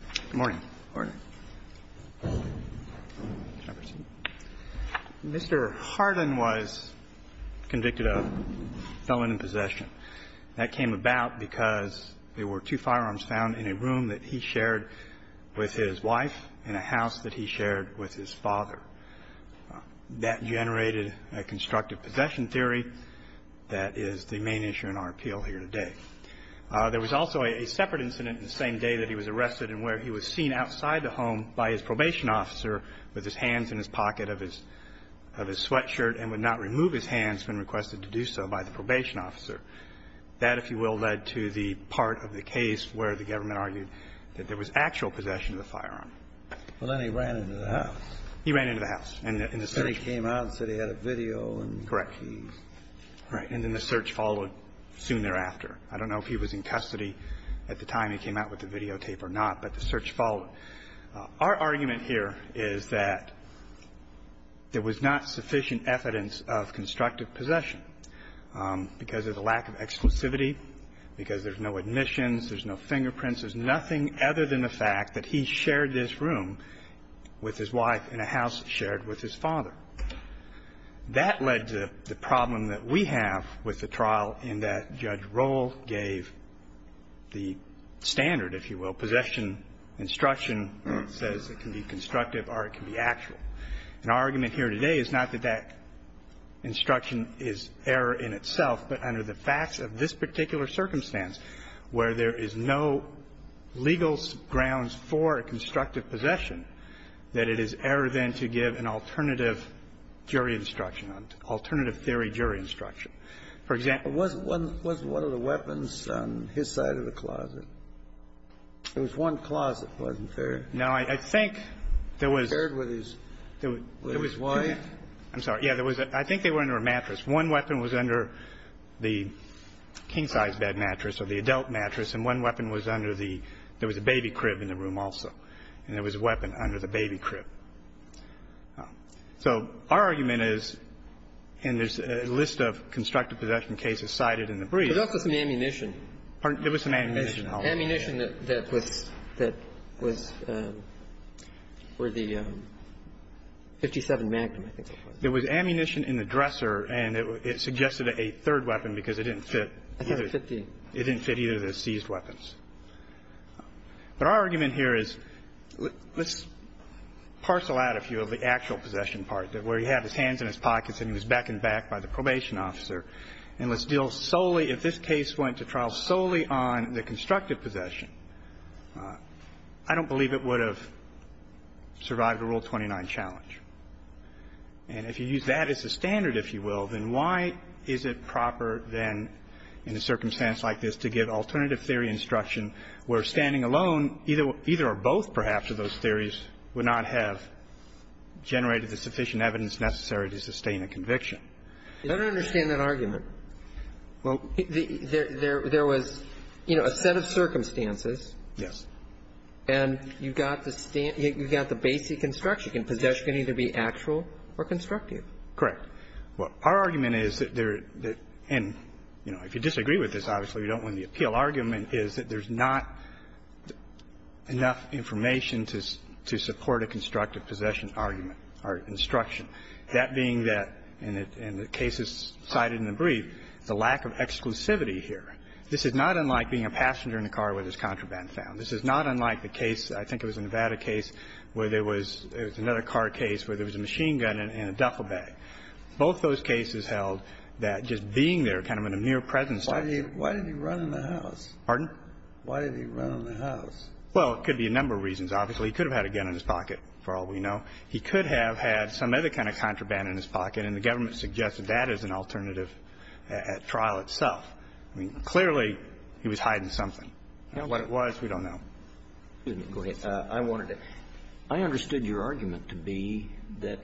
Good morning. Mr. Hardin was convicted of felon in possession. That came about because there were two firearms found in a room that he shared with his wife and a house that he shared with his father. That generated a constructive possession theory that is the main issue in our appeal here today. There was also a separate incident the same day that he was arrested in where he was seen outside the home by his probation officer with his hands in his pocket of his sweatshirt and would not remove his hands when requested to do so by the probation officer. That, if you will, led to the part of the case where the government argued that there was actual possession of the firearm. Well, then he ran into the house. He ran into the house. And then he came out and said he had a video. Correct. And then the search followed soon thereafter. I don't know if he was in custody at the time he came out with the videotape or not, but the search followed. Our argument here is that there was not sufficient evidence of constructive possession because of the lack of exclusivity, because there's no admissions, there's no fingerprints. There's nothing other than the fact that he shared this room with his wife and a house shared with his father. That led to the problem that we have with the trial in that Judge Rohl gave the standard, if you will, possession instruction that says it can be constructive or it can be actual. And our argument here today is not that that instruction is error in itself, but under the facts of this particular circumstance, where there is no legal grounds for a constructive possession, that it is error, then, to give an alternative jury instruction, alternative theory jury instruction. For example, one of the weapons on his side of the closet, it was one closet, wasn't there? No. I think there was. Shared with his wife? I think they were under a mattress. One weapon was under the king-size bed mattress or the adult mattress, and one weapon was under the – there was a baby crib in the room also, and there was a weapon under the baby crib. So our argument is, and there's a list of constructive possession cases cited in the brief. But also some ammunition. Pardon? There was some ammunition. Ammunition that was – that was for the 57 Magnum, I think. There was ammunition in the dresser, and it suggested a third weapon because it didn't fit. I think it was 15. It didn't fit either of the seized weapons. But our argument here is, let's parcel out a few of the actual possession part, where he had his hands in his pockets and he was back and back by the probation officer, and let's deal solely – if this case went to trial solely on the constructive possession, I don't believe it would have survived a Rule 29 challenge. And if you use that as a standard, if you will, then why is it proper then in a circumstance like this to give alternative theory instruction where standing alone, either or both perhaps of those theories would not have generated the sufficient evidence necessary to sustain a conviction? You better understand that argument. Well, there was, you know, a set of circumstances. Yes. And you've got the – you've got the basic construction. Possession can either be actual or constructive. Correct. Well, our argument is that there – and, you know, if you disagree with this, obviously we don't win the appeal – argument is that there's not enough information to support a constructive possession argument or instruction, that being that, and the case is cited in the brief, the lack of exclusivity here. This is not unlike being a passenger in a car with his contraband found. This is not unlike the case – I think it was a Nevada case where there was – it was another car case where there was a machine gun in a duffel bag. Both those cases held that just being there, kind of in a mere presence of it. Why did he run in the house? Pardon? Why did he run in the house? Well, it could be a number of reasons. Obviously, he could have had a gun in his pocket, for all we know. He could have had some other kind of contraband in his pocket, and the government suggested that as an alternative at trial itself. I mean, clearly, he was hiding something. What it was, we don't know. Go ahead. I wanted to – I understood your argument to be that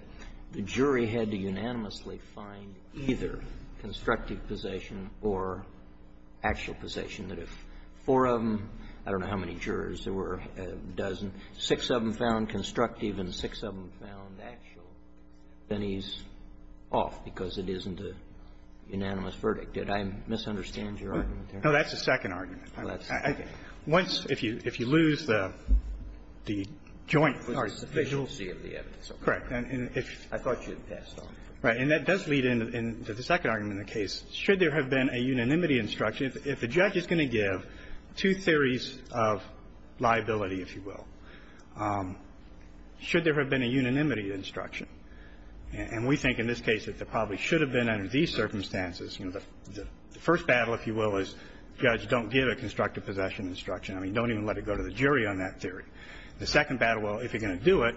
the jury had to unanimously find either constructive possession or actual possession, that if four of them – I don't know how many jurors there were, a dozen – six of them found constructive and six of them found actual, then he's off because it isn't a unanimous verdict. Did I misunderstand your argument there? No. That's the second argument. Well, that's the second. Once – if you – if you lose the joint part of the visual – It was the sufficiency of the evidence. Correct. And if – I thought you had passed on it. Right. And that does lead into the second argument of the case. Should there have been a unanimity instruction, if the judge is going to give two theories of liability, if you will, should there have been a unanimity instruction? And we think in this case that there probably should have been under these circumstances. You know, the first battle, if you will, is judge, don't give a constructive possession instruction. I mean, don't even let it go to the jury on that theory. The second battle, well, if you're going to do it,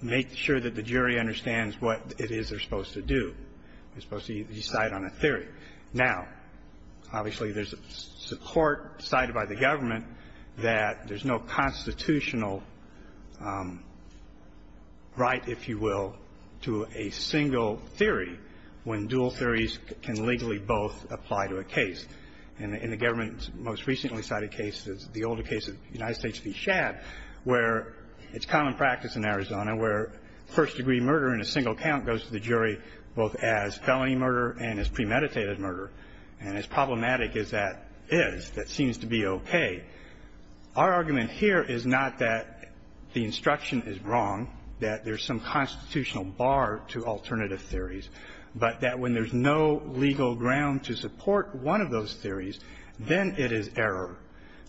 make sure that the jury understands what it is they're supposed to do. They're supposed to decide on a theory. Now, obviously, there's a court cited by the government that there's no constitutional right, if you will, to a single theory when dual theories can legally both apply to a case. And the government most recently cited cases, the older case of United States v. Schabb, where it's common practice in Arizona where first-degree murder in a single count goes to the jury both as felony murder and as premeditated murder. And as problematic as that is, that seems to be okay, our argument here is not that the instruction is wrong, that there's some constitutional bar to alternative theories, but that when there's no legal ground to support one of those theories, then it is error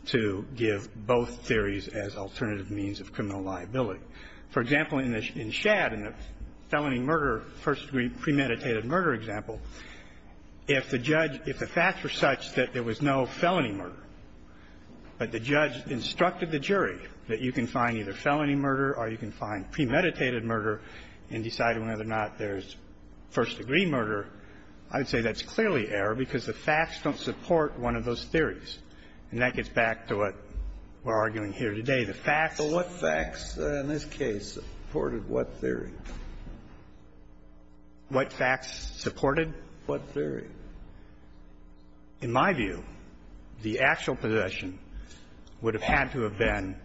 to give both theories as alternative means of criminal liability. For example, in Schabb, in the felony murder, first-degree premeditated murder example, if the judge, if the facts were such that there was no felony murder, but the judge instructed the jury that you can find either felony murder or you can find premeditated murder and decide whether or not there's first-degree murder, I would say that's clearly error because the facts don't support one of those theories. And that gets back to what we're arguing here today. The facts. Kennedy. But what facts in this case supported what theory? What facts supported what theory? In my view, the actual possession would have had to have been,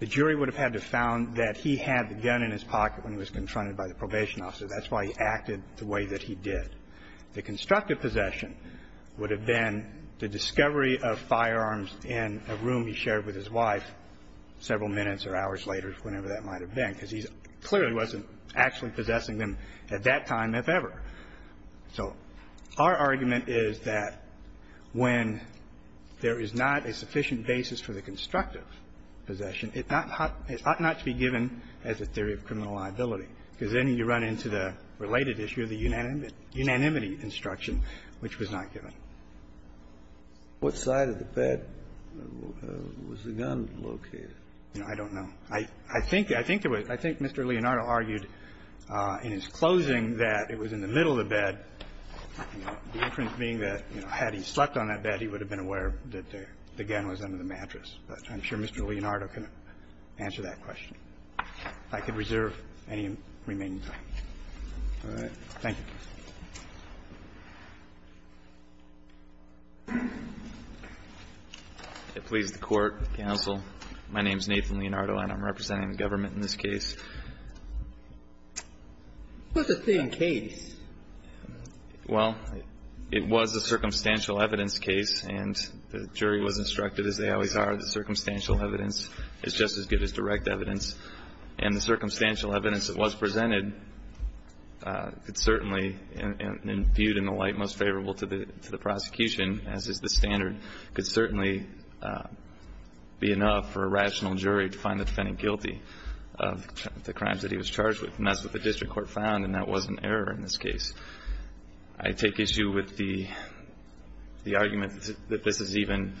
the jury would have had to have found that he had the gun in his pocket when he was confronted by the probation officer. That's why he acted the way that he did. The constructive possession would have been the discovery of firearms in a room he was in with his wife several minutes or hours later, whenever that might have been, because he clearly wasn't actually possessing them at that time, if ever. So our argument is that when there is not a sufficient basis for the constructive possession, it ought not to be given as a theory of criminal liability, because then you run into the related issue of the unanimity instruction, which was not given. What side of the bed was the gun located? I don't know. I think Mr. Leonardo argued in his closing that it was in the middle of the bed, the inference being that, you know, had he slept on that bed, he would have been aware that the gun was under the mattress. But I'm sure Mr. Leonardo can answer that question. If I could reserve any remaining time. All right. Thank you. Please, the Court, counsel. My name is Nathan Leonardo, and I'm representing the government in this case. It was a thin case. Well, it was a circumstantial evidence case, and the jury was instructed, as they always are, that circumstantial evidence is just as good as direct evidence. And the circumstantial evidence that was presented could certainly, and viewed in the light most favorable to the prosecution, as is the standard, could certainly be enough for a rational jury to find the defendant guilty of the crimes that he was charged with. And that's what the district court found, and that was an error in this case. I take issue with the argument that this is even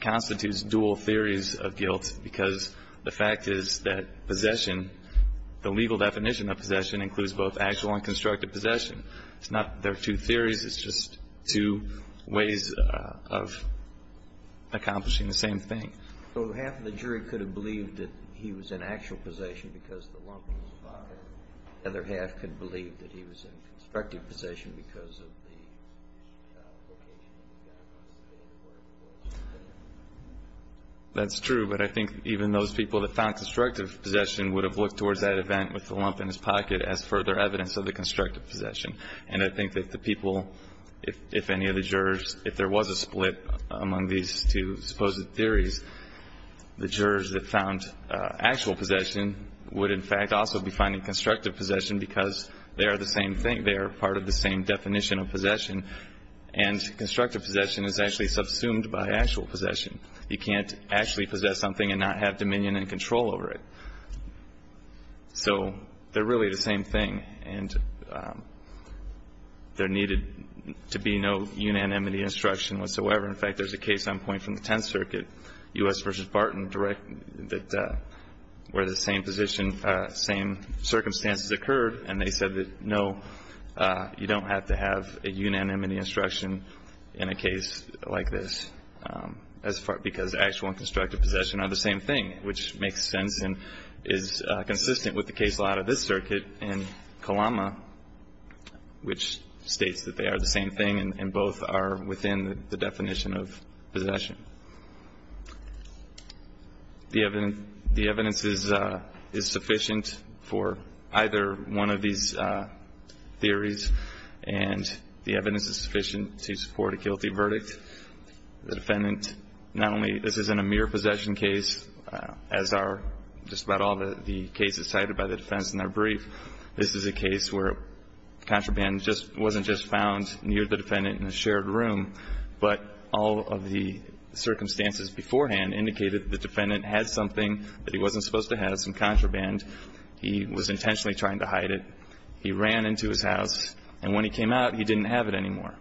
constitutes dual theories of guilt, because the fact is that possession, the legal definition of possession, includes both actual and constructive possession. It's not that there are two theories. It's just two ways of accomplishing the same thing. So half of the jury could have believed that he was in actual possession because the lump was fired. The other half could believe that he was in constructive possession because of the location of the gun across the bed and where it was. That's true. But I think even those people that found constructive possession would have looked towards that event with the lump in his pocket as further evidence of the constructive possession. And I think that the people, if any of the jurors, if there was a split among these two supposed theories, the jurors that found actual possession would, in fact, also be finding constructive possession because they are the same thing. They are part of the same definition of possession. And constructive possession is actually subsumed by actual possession. You can't actually possess something and not have dominion and control over it. So they're really the same thing. And there needed to be no unanimity instruction whatsoever. In fact, there's a case on point from the Tenth Circuit, U.S. v. Barton, where the same circumstances occurred, and they said that, no, you don't have to have a unanimity instruction in a case like this because actual and constructive possession are the same thing, which makes sense and is consistent with the case law out of this circuit in Kalama, which states that they are the same thing and both are within the definition of possession. The evidence is sufficient for either one of these theories, and the evidence is sufficient to support a guilty verdict. The defendant, not only, this isn't a mere possession case, as are just about all the cases cited by the defense in their brief. This is a case where contraband just wasn't just found near the defendant in a shared room, but all of the circumstances beforehand indicated that the defendant had something that he wasn't supposed to have, some contraband. He was intentionally trying to hide it. He ran into his house, and when he came out, he didn't have it anymore.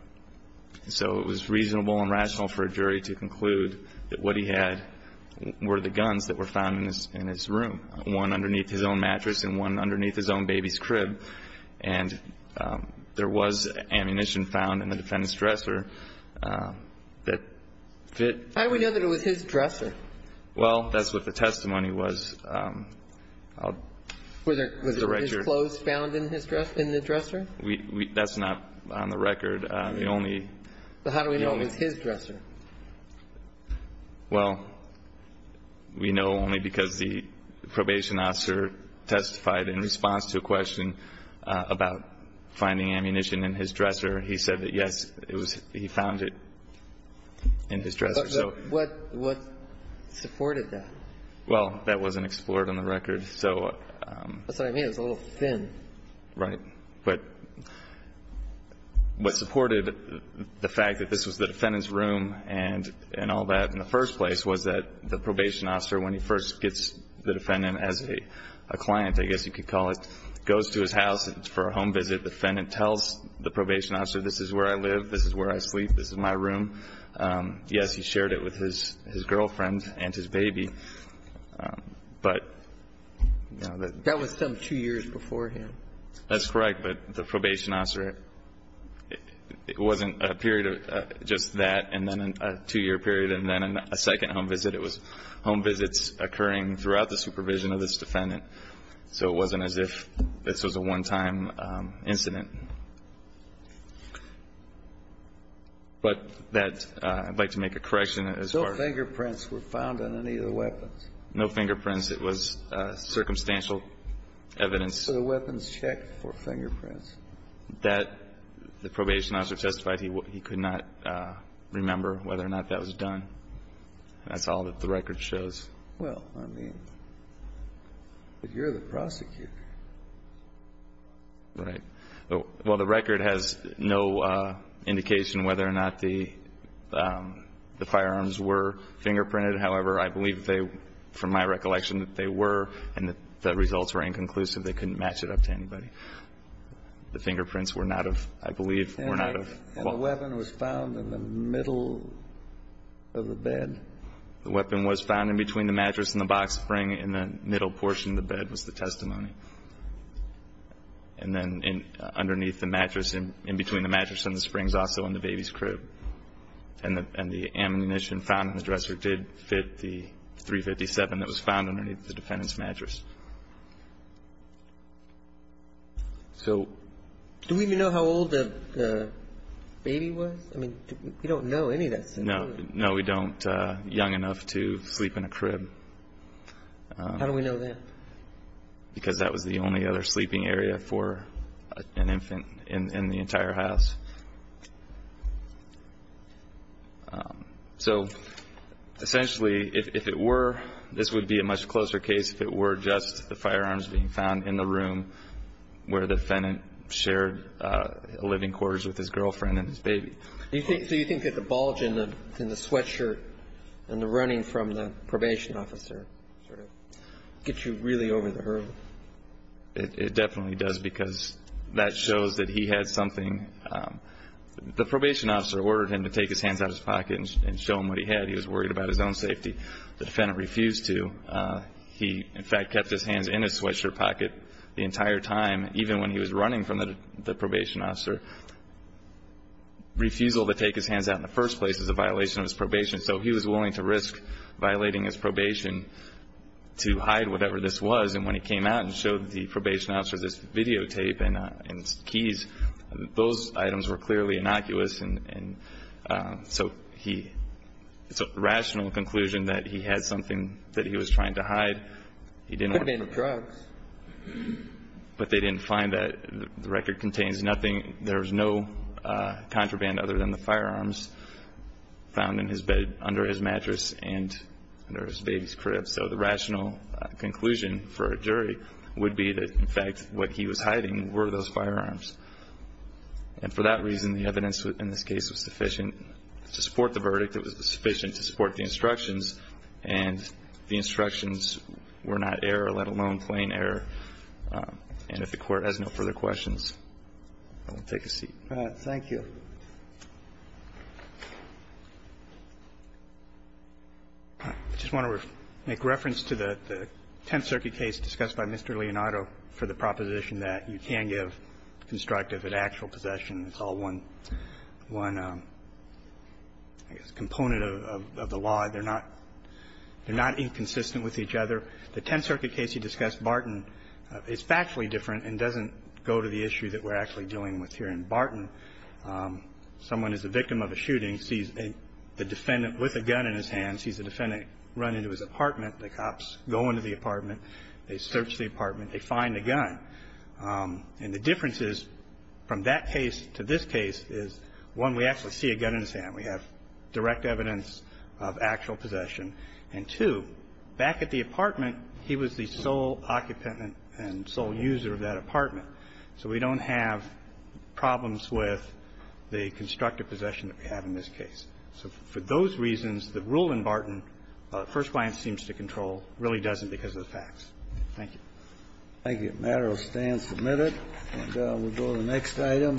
So it was reasonable and rational for a jury to conclude that what he had were the guns that were found in his room, one underneath his own mattress and one underneath his own baby's crib. And there was ammunition found in the defendant's dresser that fit. How do we know that it was his dresser? Well, that's what the testimony was. Was it his clothes found in his dresser, in the dresser? That's not on the record. The only. But how do we know it was his dresser? Well, we know only because the probation officer testified in response to a question about finding ammunition in his dresser. He said that, yes, it was he found it in his dresser. But what supported that? Well, that wasn't explored on the record. So. That's what I mean. It was a little thin. Right. But what supported the fact that this was the defendant's room and all that in the first place was that the probation officer, when he first gets the defendant as a client, I guess you could call it, goes to his house for a home visit. The defendant tells the probation officer, this is where I live, this is where I sleep, this is my room. Yes, he shared it with his girlfriend and his baby. But. That was some two years beforehand. That's correct. But the probation officer, it wasn't a period of just that and then a two-year period and then a second home visit. It was home visits occurring throughout the supervision of this defendant. So it wasn't as if this was a one-time incident. But that, I'd like to make a correction as far as. No fingerprints were found on any of the weapons. No fingerprints. It was circumstantial evidence. So the weapons checked for fingerprints. That the probation officer testified he could not remember whether or not that was done. That's all that the record shows. Well, I mean, but you're the prosecutor. Right. Well, the record has no indication whether or not the firearms were fingerprinted. However, I believe they, from my recollection, that they were and that the results were inconclusive. They couldn't match it up to anybody. The fingerprints were not of, I believe, were not of. And the weapon was found in the middle of the bed. The weapon was found in between the mattress and the box spring in the middle portion of the bed was the testimony. And then underneath the mattress, in between the mattress and the springs, also in the baby's crib. And the ammunition found in the dresser did fit the .357 that was found underneath the defendant's mattress. So. Do we even know how old the baby was? I mean, we don't know any of that. No. No, we don't. Young enough to sleep in a crib. How do we know that? Because that was the only other sleeping area for an infant in the entire house. So, essentially, if it were, this would be a much closer case if it were just the firearms being found in the room where the defendant shared living quarters with his girlfriend and his baby. Do you think that the bulge in the sweatshirt and the running from the probation officer sort of gets you really over the hurdle? It definitely does, because that shows that he had something. The probation officer ordered him to take his hands out of his pocket and show him what he had. He was worried about his own safety. The defendant refused to. He, in fact, kept his hands in his sweatshirt pocket the entire time, even when he was running from the probation officer. Refusal to take his hands out in the first place is a violation of his probation. So he was willing to risk violating his probation to hide whatever this was. And when he came out and showed the probation officer this videotape and keys, those items were clearly innocuous. And so he, it's a rational conclusion that he had something that he was trying to hide. He didn't want to. A contraband of drugs. But they didn't find that. The record contains nothing. There was no contraband other than the firearms found in his bed, under his mattress, and under his baby's crib. So the rational conclusion for a jury would be that, in fact, what he was hiding were those firearms. And for that reason, the evidence in this case was sufficient to support the verdict. It was sufficient to support the instructions. And the instructions were not error, let alone plain error. And if the Court has no further questions, I will take a seat. All right. Thank you. I just want to make reference to the Tenth Circuit case discussed by Mr. Leonardo for the proposition that you can give constructive and actual possession. It's all one component of the law. They're not inconsistent with each other. The Tenth Circuit case you discussed, Barton, is factually different and doesn't go to the issue that we're actually dealing with here in Barton. Someone is a victim of a shooting, sees the defendant with a gun in his hand, sees the defendant run into his apartment. The cops go into the apartment. They search the apartment. They find the gun. And the difference is, from that case to this case, is, one, we actually see a gun in his hand. We have direct evidence of actual possession. And, two, back at the apartment, he was the sole occupant and sole user of that apartment. So we don't have problems with the constructive possession that we have in this case. So for those reasons, the rule in Barton, First Client seems to control, really doesn't because of the facts. Thank you. Thank you. The matter will stand submitted. And we'll go to the next item.